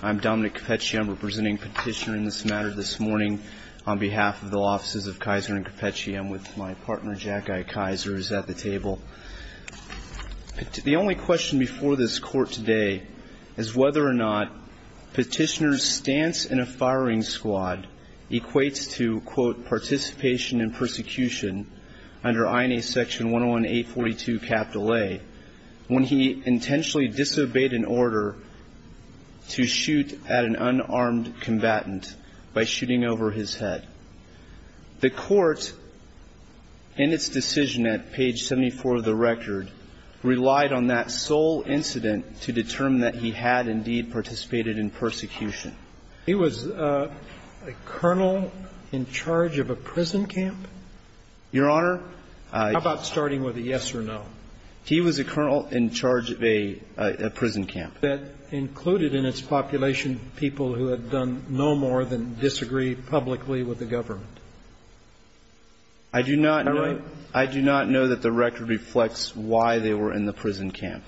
I'm Dominic Cappecci. I'm representing Petitioner in this matter this morning on behalf of the Law Offices of Kaiser and Cappecci. I'm with my partner, Jack I. Kaiser, who's at the table. The only question before this court today is whether or not Petitioner's stance in a firing squad equates to, quote, participation in persecution under INA Section 101-842-A when he intentionally disobeyed an order to shoot at an unarmed combatant by shooting over his head. The Court, in its decision at page 74 of the record, relied on that sole incident to determine that he had indeed participated in persecution. He was a colonel in charge of a prison camp? Your Honor, I How about starting with a yes or no? He was a colonel in charge of a prison camp. That included in its population people who had done no more than disagree publicly with the government? I do not know. All right. I do not know that the record reflects why they were in the prison camp,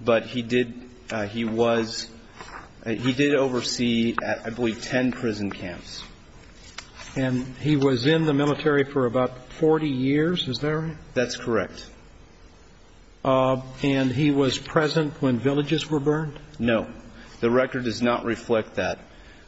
but he did he was he did oversee, I believe, ten prison camps. And he was in the military for about 40 years, is that right? That's correct. And he was present when villages were burned? No. The record does not reflect that.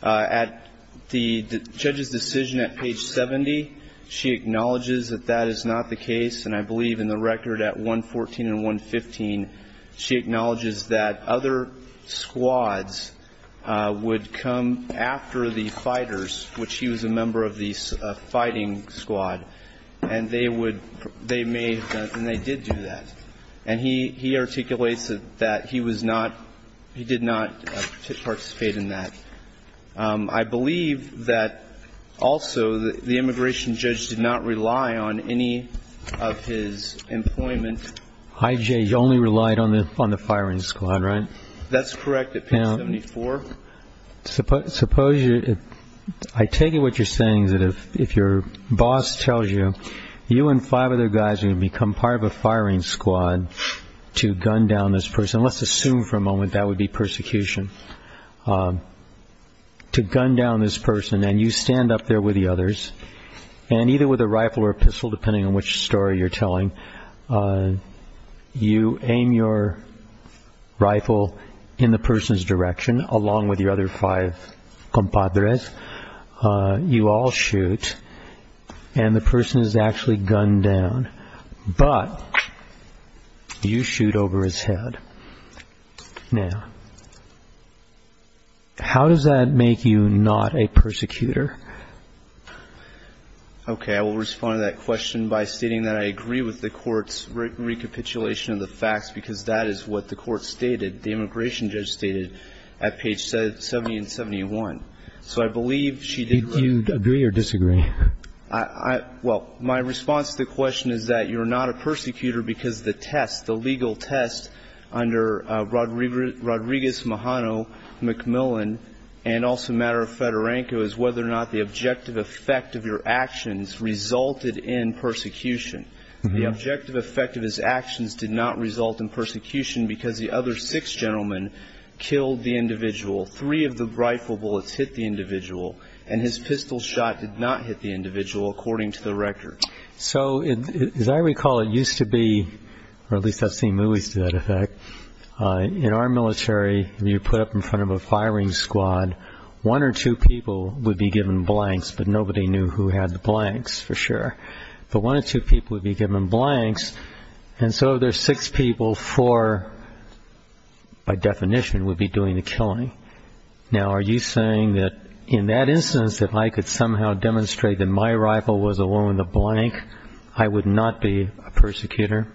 At the judge's decision at page 70, she acknowledges that that is not the case, and I believe in the record at 114 and 115, she acknowledges that other squads would come after the fighters, which he was a member of the fighting squad, and they did do that. And he articulates that he did not participate in that. I believe that also the immigration judge did not rely on any of his employment. I.J. only relied on the firing squad, right? That's correct, at page 74. I take it what you're saying is that if your boss tells you, you and five other guys are going to become part of a firing squad to gun down this person, let's assume for a moment that would be persecution, to gun down this person, and you stand up there with the others, and either with a rifle or a pistol, depending on which story you're telling, you aim your rifle in the person's direction, along with your other five compadres. You all shoot, and the person is actually gunned down, but you shoot over his head. Now, how does that make you not a persecutor? Okay. I will respond to that question by stating that I agree with the Court's recapitulation of the facts, because that is what the Court stated, the immigration judge stated, at page 70 and 71. So I believe she did. Did you agree or disagree? Well, my response to the question is that you're not a persecutor because the test, the legal test under Rodriguez-Mahano-McMillan, and also a matter of Fedorenko, is whether or not the objective effect of your actions resulted in persecution. The objective effect of his actions did not result in persecution because the other six gentlemen killed the individual. Three of the rifle bullets hit the individual, and his pistol shot did not hit the individual, according to the record. So, as I recall, it used to be, or at least I've seen movies to that effect, in our military when you're put up in front of a firing squad, one or two people would be given blanks, but nobody knew who had the blanks for sure. But one or two people would be given blanks, and so there's six people for, by definition, would be doing the killing. Now, are you saying that in that instance, if I could somehow demonstrate that my rifle was the one with the blank, I would not be a persecutor?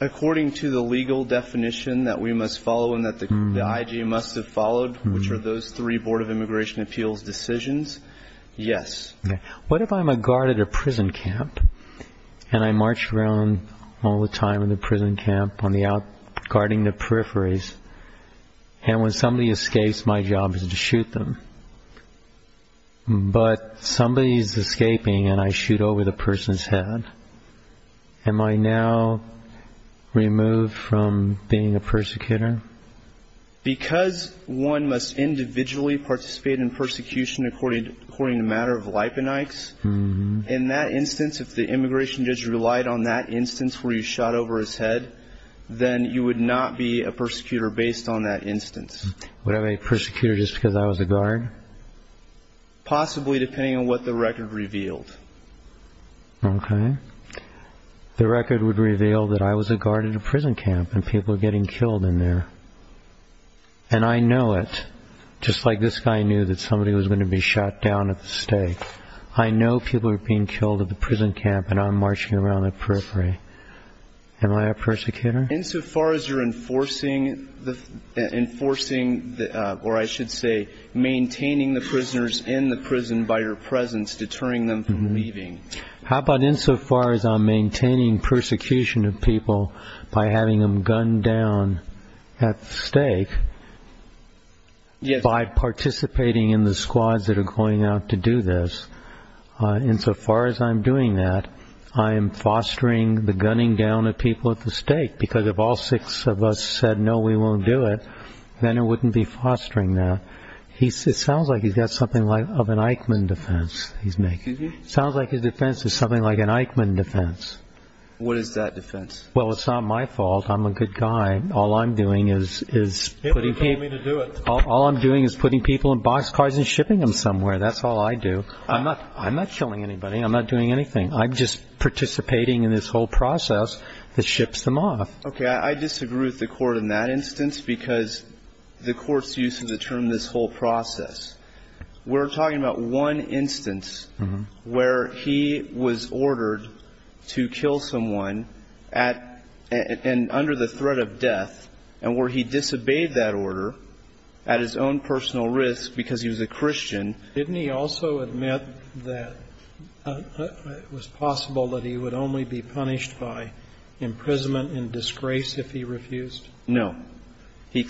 According to the legal definition that we must follow and that the IG must have followed, which are those three Board of Immigration Appeals decisions, yes. What if I'm a guard at a prison camp and I march around all the time in the prison camp on the out-guarding the peripheries, and when somebody escapes, my job is to shoot them. But somebody's escaping and I shoot over the person's head. Am I now removed from being a persecutor? Because one must individually participate in persecution according to a matter of lipenics, in that instance, if the immigration judge relied on that instance where you shot over his head, then you would not be a persecutor based on that instance. Would I be a persecutor just because I was a guard? Possibly, depending on what the record revealed. Okay. The record would reveal that I was a guard in a prison camp and people were getting killed in there. And I know it, just like this guy knew that somebody was going to be shot down at the stake. I know people are being killed at the prison camp and I'm marching around the periphery. Am I a persecutor? Insofar as you're enforcing, or I should say maintaining the prisoners in the prison by your presence, deterring them from leaving. How about insofar as I'm maintaining persecution of people by having them gunned down at stake, by participating in the squads that are going out to do this. Insofar as I'm doing that, I am fostering the gunning down of people at the stake, because if all six of us said, no, we won't do it, then it wouldn't be fostering that. It sounds like he's got something of an Eichmann defense he's making. Sounds like his defense is something like an Eichmann defense. What is that defense? Well, it's not my fault. I'm a good guy. All I'm doing is putting people in boxcars and shipping them somewhere. That's all I do. I'm not killing anybody. I'm not doing anything. I'm just participating in this whole process that ships them off. Okay. I disagree with the court in that instance because the court's use of the term this whole process. We're talking about one instance where he was ordered to kill someone at and under the threat of death and where he disobeyed that order at his own personal risk because he was a Christian. Didn't he also admit that it was possible that he would only be punished by imprisonment and disgrace if he refused? No. And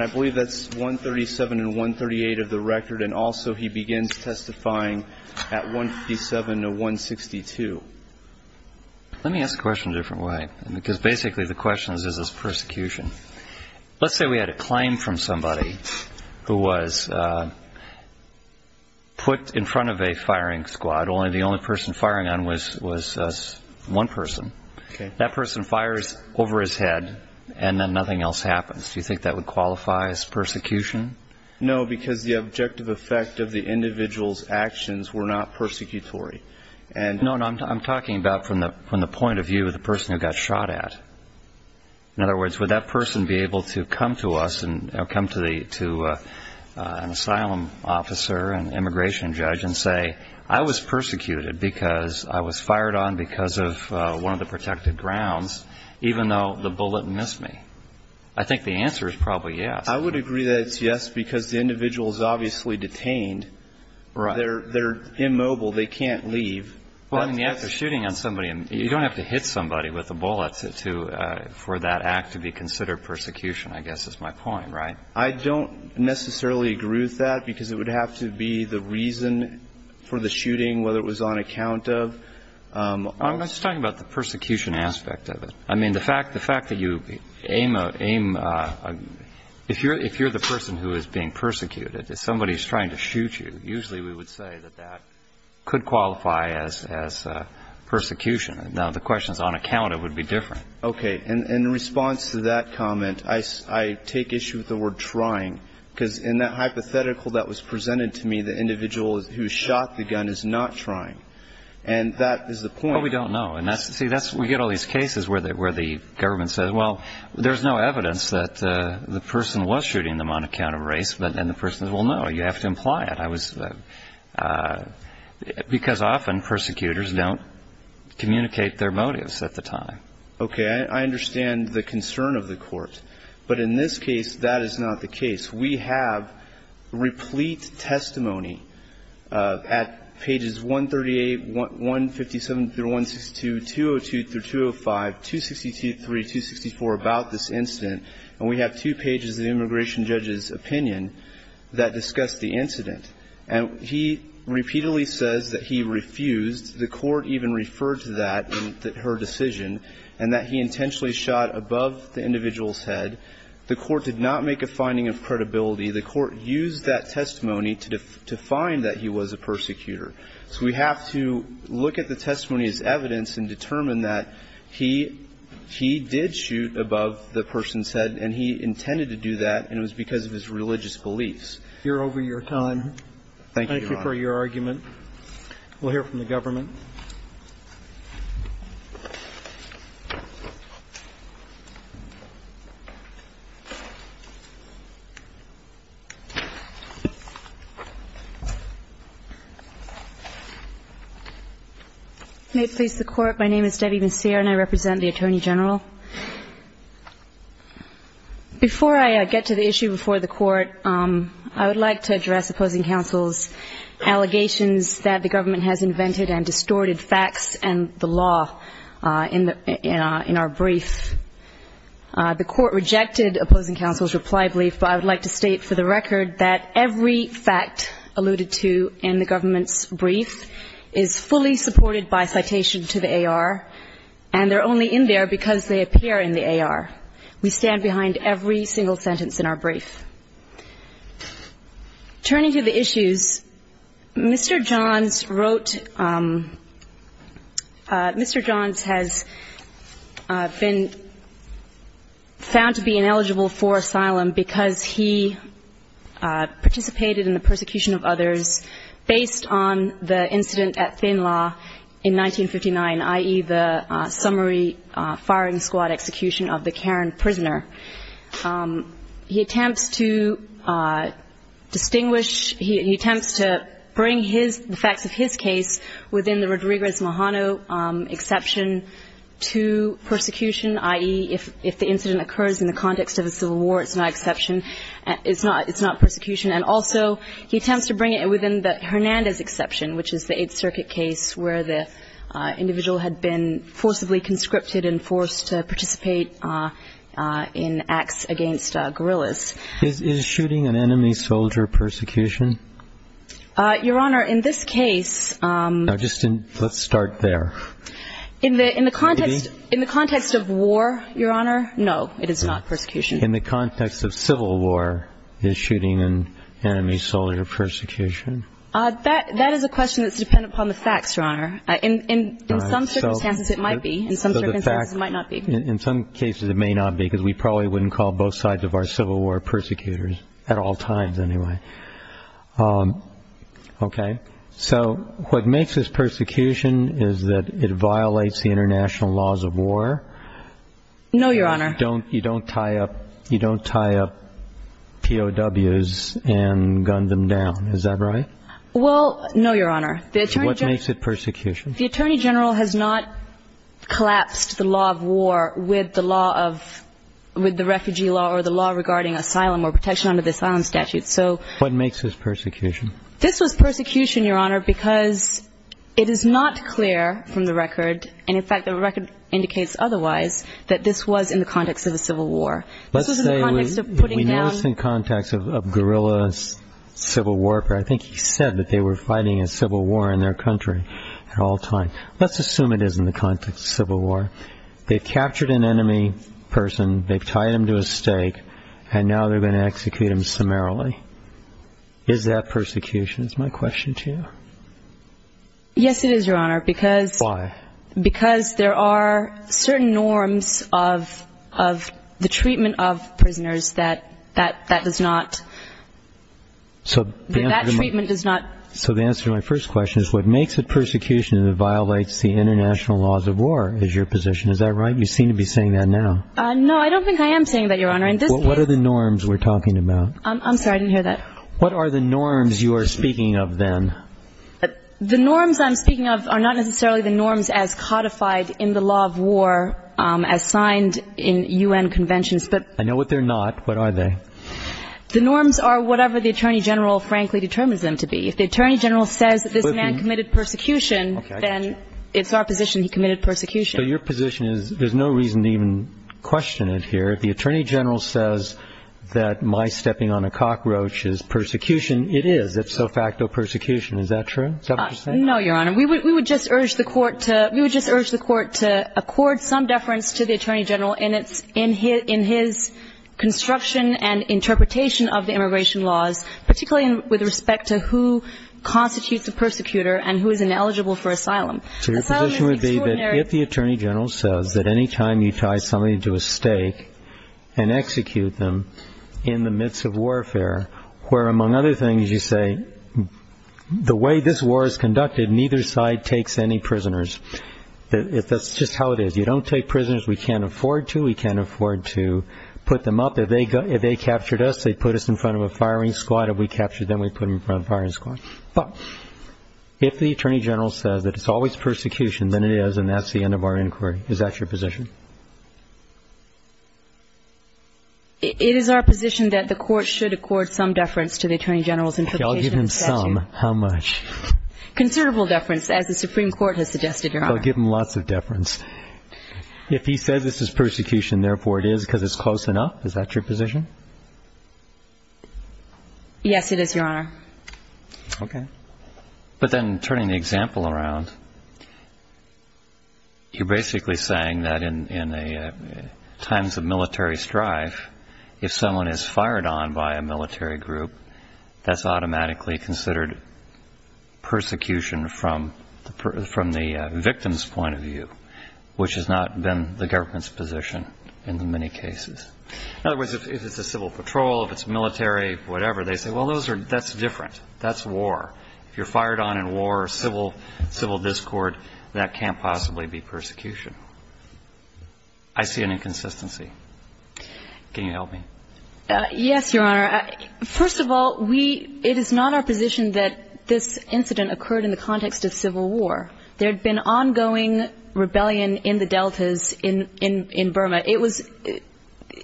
I believe that's 137 and 138 of the record. And also he begins testifying at 157 to 162. Let me ask the question a different way because basically the question is, is this persecution? Let's say we had a claim from somebody who was put in front of a firing squad, only the only person firing on was one person. Okay. That person fires over his head and then nothing else happens. Do you think that would qualify as persecution? No, because the objective effect of the individual's actions were not persecutory. No, I'm talking about from the point of view of the person who got shot at. In other words, would that person be able to come to us and come to an asylum officer, an immigration judge, and say, I was persecuted because I was fired on because of one of the protected grounds, even though the bullet missed me? I think the answer is probably yes. I would agree that it's yes because the individual is obviously detained. They're immobile. They can't leave. Well, I mean, after shooting at somebody, you don't have to hit somebody with a bullet for that act to be considered persecution, I guess is my point, right? I don't necessarily agree with that because it would have to be the reason for the shooting, whether it was on account of. I'm just talking about the persecution aspect of it. I mean, the fact that you aim a – if you're the person who is being persecuted, if somebody is trying to shoot you, usually we would say that that could qualify as persecution. Now, if the question is on account, it would be different. Okay. And in response to that comment, I take issue with the word trying because in that hypothetical that was presented to me, the individual who shot the gun is not trying. And that is the point. Well, we don't know. See, we get all these cases where the government says, well, there's no evidence that the person was shooting them on account of race, but then the person says, well, no, you have to imply it. Because often persecutors don't communicate their motives at the time. Okay. I understand the concern of the Court. But in this case, that is not the case. We have replete testimony at pages 138, 157-162, 202-205, 263-264 about this incident. And we have two pages of the immigration judge's opinion that discuss the incident. And he repeatedly says that he refused. The Court even referred to that in her decision and that he intentionally shot above the individual's head. The Court did not make a finding of credibility. The Court used that testimony to find that he was a persecutor. So we have to look at the testimony as evidence and determine that he did shoot above the person's head and he intended to do that, and it was because of his religious beliefs. We're over your time. Thank you, Your Honor. Thank you for your argument. We'll hear from the government. May it please the Court. My name is Debbie Monsier and I represent the Attorney General. Before I get to the issue before the Court, I would like to address opposing counsel's allegations that the government has invented and distorted facts and the law in our brief. The Court rejected opposing counsel's reply brief, but I would like to state for the record that every fact alluded to in the government's brief is fully supported by citation to the AR, and they're only in there because they appear in the AR. We stand behind every single sentence in our brief. Turning to the issues, Mr. Johns wrote Mr. Johns has been found to be ineligible for asylum because he participated in the persecution of others based on the incident at Thin Law in 1959, i.e., the summary firing squad execution of the Karen prisoner. He attempts to distinguish, he attempts to bring the facts of his case within the Rodriguez-Mahano exception to persecution, i.e., if the incident occurs in the context of a civil war, it's not exception, it's not persecution. And also he attempts to bring it within the Hernandez exception, which is the Eighth Amendment in Acts Against Guerrillas. Is shooting an enemy soldier persecution? Your Honor, in this case... Let's start there. In the context of war, Your Honor, no, it is not persecution. In the context of civil war, is shooting an enemy soldier persecution? That is a question that's dependent upon the facts, Your Honor. In some circumstances it might be. In some circumstances it might not be. In some cases it may not be because we probably wouldn't call both sides of our civil war persecutors, at all times anyway. Okay. So what makes this persecution is that it violates the international laws of war. No, Your Honor. You don't tie up POWs and gun them down, is that right? Well, no, Your Honor. What makes it persecution? The Attorney General has not collapsed the law of war with the law of the refugee law or the law regarding asylum or protection under the asylum statute. What makes this persecution? This was persecution, Your Honor, because it is not clear from the record, and in fact the record indicates otherwise, that this was in the context of a civil war. Let's say we notice in context of guerrillas, civil warfare, I think he said that they were fighting a civil war in their country at all times. Let's assume it is in the context of civil war. They've captured an enemy person, they've tied him to a stake, and now they're going to execute him summarily. Is that persecution, is my question to you? Yes, it is, Your Honor. Why? Because there are certain norms of the treatment of prisoners that that does not. That treatment does not. So the answer to my first question is what makes it persecution that violates the international laws of war is your position. Is that right? You seem to be saying that now. No, I don't think I am saying that, Your Honor. What are the norms we're talking about? I'm sorry, I didn't hear that. What are the norms you are speaking of then? The norms I'm speaking of are not necessarily the norms as codified in the law of war as signed in U.N. conventions. I know what they're not. What are they? The norms are whatever the Attorney General frankly determines them to be. If the Attorney General says this man committed persecution, then it's our position he committed persecution. So your position is there's no reason to even question it here. If the Attorney General says that my stepping on a cockroach is persecution, it is. It's de facto persecution. Is that true? Is that what you're saying? No, Your Honor. We would just urge the Court to accord some deference to the Attorney General in his construction and interpretation of the immigration laws, particularly with respect to who constitutes a persecutor and who is ineligible for asylum. So your position would be that if the Attorney General says that any time you tie somebody to a stake and execute them in the midst of warfare, where among other things you say the way this war is conducted, neither side takes any prisoners. That's just how it is. You don't take prisoners we can't afford to. We can't afford to put them up. If they captured us, they put us in front of a firing squad. If we captured them, we put them in front of a firing squad. But if the Attorney General says that it's always persecution, then it is, and that's the end of our inquiry. Is that your position? It is our position that the Court should accord some deference to the Attorney General's interpretation of the statute. Okay, I'll give him some. How much? Considerable deference, as the Supreme Court has suggested, Your Honor. I'll give him lots of deference. If he says this is persecution, therefore it is because it's close enough, is that your position? Yes, it is, Your Honor. Okay. But then turning the example around, you're basically saying that in times of military strife, if someone is fired on by a military group, that's automatically considered persecution from the victim's point of view, which has not been the government's position in many cases. In other words, if it's a civil patrol, if it's military, whatever, they say, well, that's different. That's war. If you're fired on in war or civil discord, that can't possibly be persecution. I see an inconsistency. Can you help me? Yes, Your Honor. First of all, it is not our position that this incident occurred in the context of civil war. There had been ongoing rebellion in the deltas in Burma.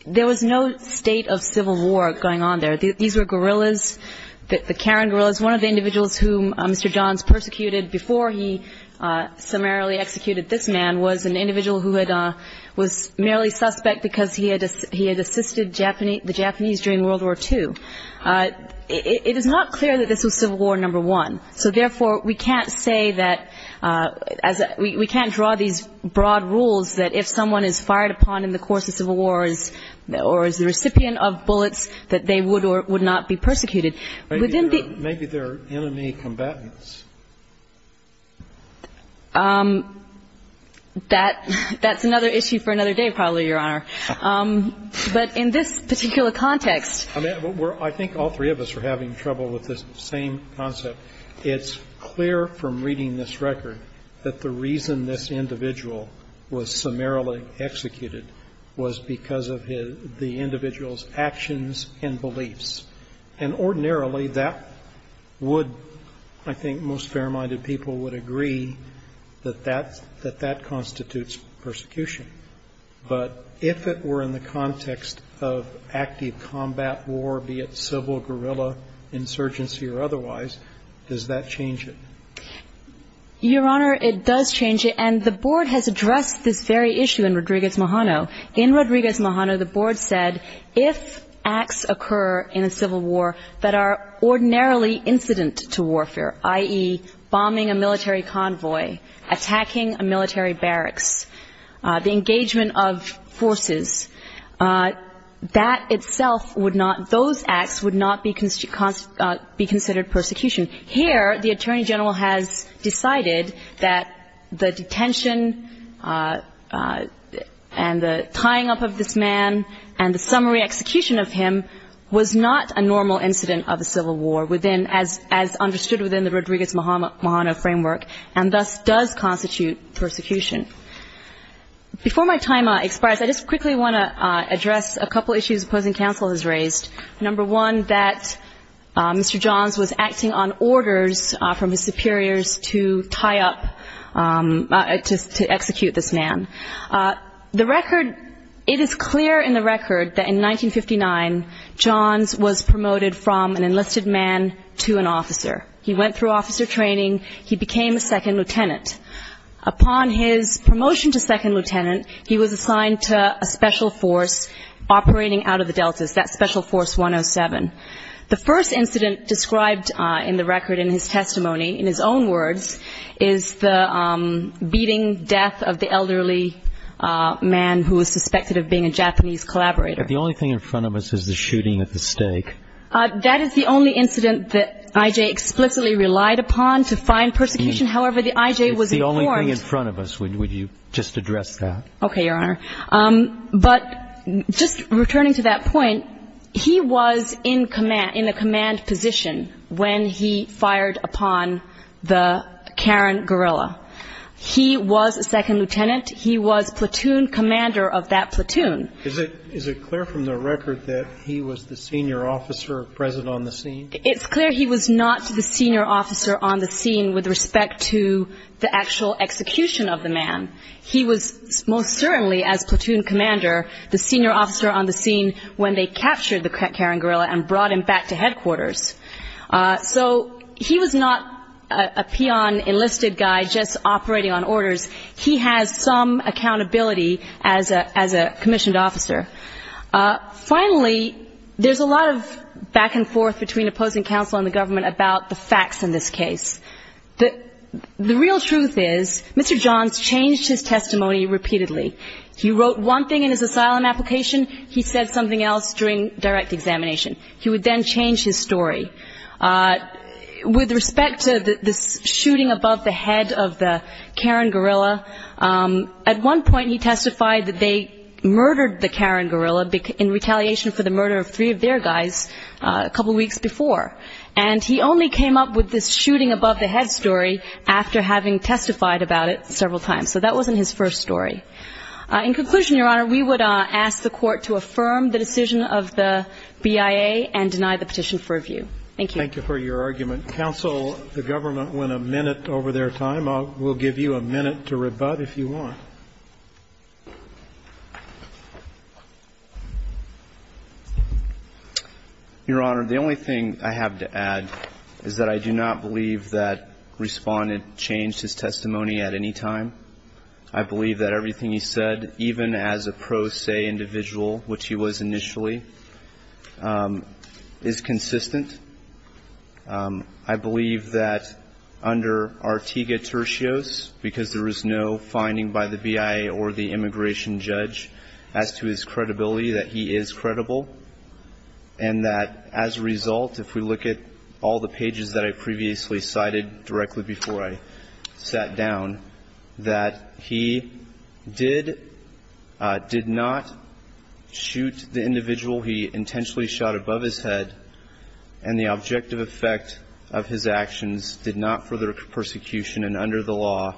There was no state of civil war going on there. These were guerrillas, the Karen guerrillas. One of the individuals whom Mr. Johns persecuted before he summarily executed this man was an individual who was merely suspect because he had assisted the Japanese during World War II. It is not clear that this was civil war number one, so therefore we can't say that we can't draw these broad rules that if someone is fired upon in the course of civil war or is the recipient of bullets that they would or would not be persecuted. Maybe they're enemy combatants. That's another issue for another day probably, Your Honor. But in this particular context. I think all three of us are having trouble with this same concept. It's clear from reading this record that the reason this individual was summarily executed was because of the individual's actions and beliefs. And ordinarily that would, I think most fair-minded people would agree that that constitutes persecution. But if it were in the context of active combat war, be it civil, guerrilla, insurgency or otherwise, does that change it? Your Honor, it does change it. And the Board has addressed this very issue in Rodriguez-Mohano. In Rodriguez-Mohano, the Board said if acts occur in a civil war that are ordinarily incident to warfare, i.e., bombing a military convoy, attacking a military barracks, the engagement of forces, that itself would not, those acts would not be considered persecution. Here, the Attorney General has decided that the detention and the tying up of this man and the summary execution of him was not a normal incident of a civil war as understood within the Rodriguez-Mohano framework, and thus does constitute persecution. Before my time expires, I just quickly want to address a couple issues opposing counsel has raised. Number one, that Mr. Johns was acting on orders from his superiors to tie up, to execute this man. The record, it is clear in the record that in 1959, Johns was promoted from an enlisted man to an officer. He went through officer training. He became a second lieutenant. Upon his promotion to second lieutenant, he was assigned to a special force operating out of the Deltas, that Special Force 107. The first incident described in the record in his testimony, in his own words, is the beating death of the elderly man who was suspected of being a Japanese collaborator. But the only thing in front of us is the shooting at the stake. That is the only incident that I.J. explicitly relied upon to find persecution. However, the I.J. was informed. It's the only thing in front of us. Would you just address that? Okay, Your Honor. But just returning to that point, he was in command, in a command position when he fired upon the Karen guerrilla. He was a second lieutenant. He was platoon commander of that platoon. Is it clear from the record that he was the senior officer present on the scene? It's clear he was not the senior officer on the scene with respect to the actual execution of the man. He was most certainly, as platoon commander, the senior officer on the scene when they captured the Karen guerrilla and brought him back to headquarters. So he was not a peon enlisted guy just operating on orders. He has some accountability as a commissioned officer. Finally, there's a lot of back and forth between opposing counsel and the government about the facts in this case. The real truth is Mr. Johns changed his testimony repeatedly. He wrote one thing in his asylum application. He said something else during direct examination. He would then change his story. With respect to this shooting above the head of the Karen guerrilla, at one point he testified that they murdered the Karen guerrilla in retaliation for the murder of three of their guys a couple weeks before. And he only came up with this shooting above the head story after having testified about it several times. So that wasn't his first story. In conclusion, Your Honor, we would ask the Court to affirm the decision of the BIA and deny the petition for review. Thank you. Thank you for your argument. Counsel, the government went a minute over their time. We'll give you a minute to rebut if you want. Your Honor, the only thing I have to add is that I do not believe that Respondent changed his testimony at any time. I believe that everything he said, even as a pro se individual, which he was initially, is consistent. I believe that under Artiga-Tertius, because there is no finding by the BIA or the immigration judge as to his credibility, that he is credible. And that as a result, if we look at all the pages that I previously cited directly before I sat down, that he is credible. I believe that he did not shoot the individual he intentionally shot above his head. And the objective effect of his actions did not further persecution. And under the law,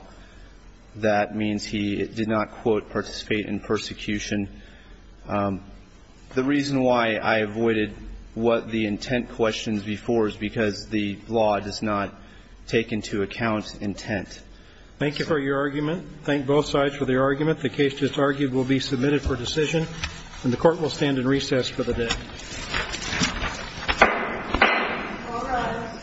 that means he did not, quote, participate in persecution. The reason why I avoided what the intent questions before is because the law does not take into account intent. Thank you for your argument. Thank both sides for their argument. The case just argued will be submitted for decision. And the court will stand in recess for the day. Thank you. Thank you. Thank you. Thank you.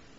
Thank you.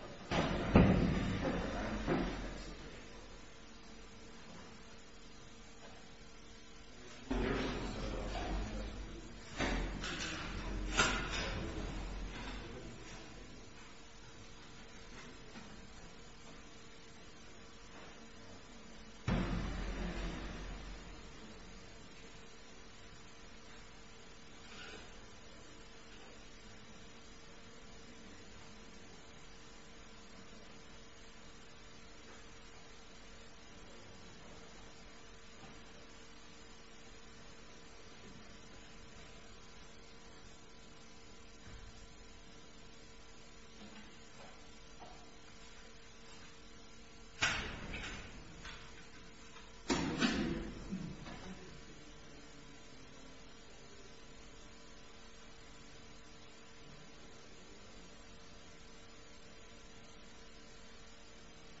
Thank you.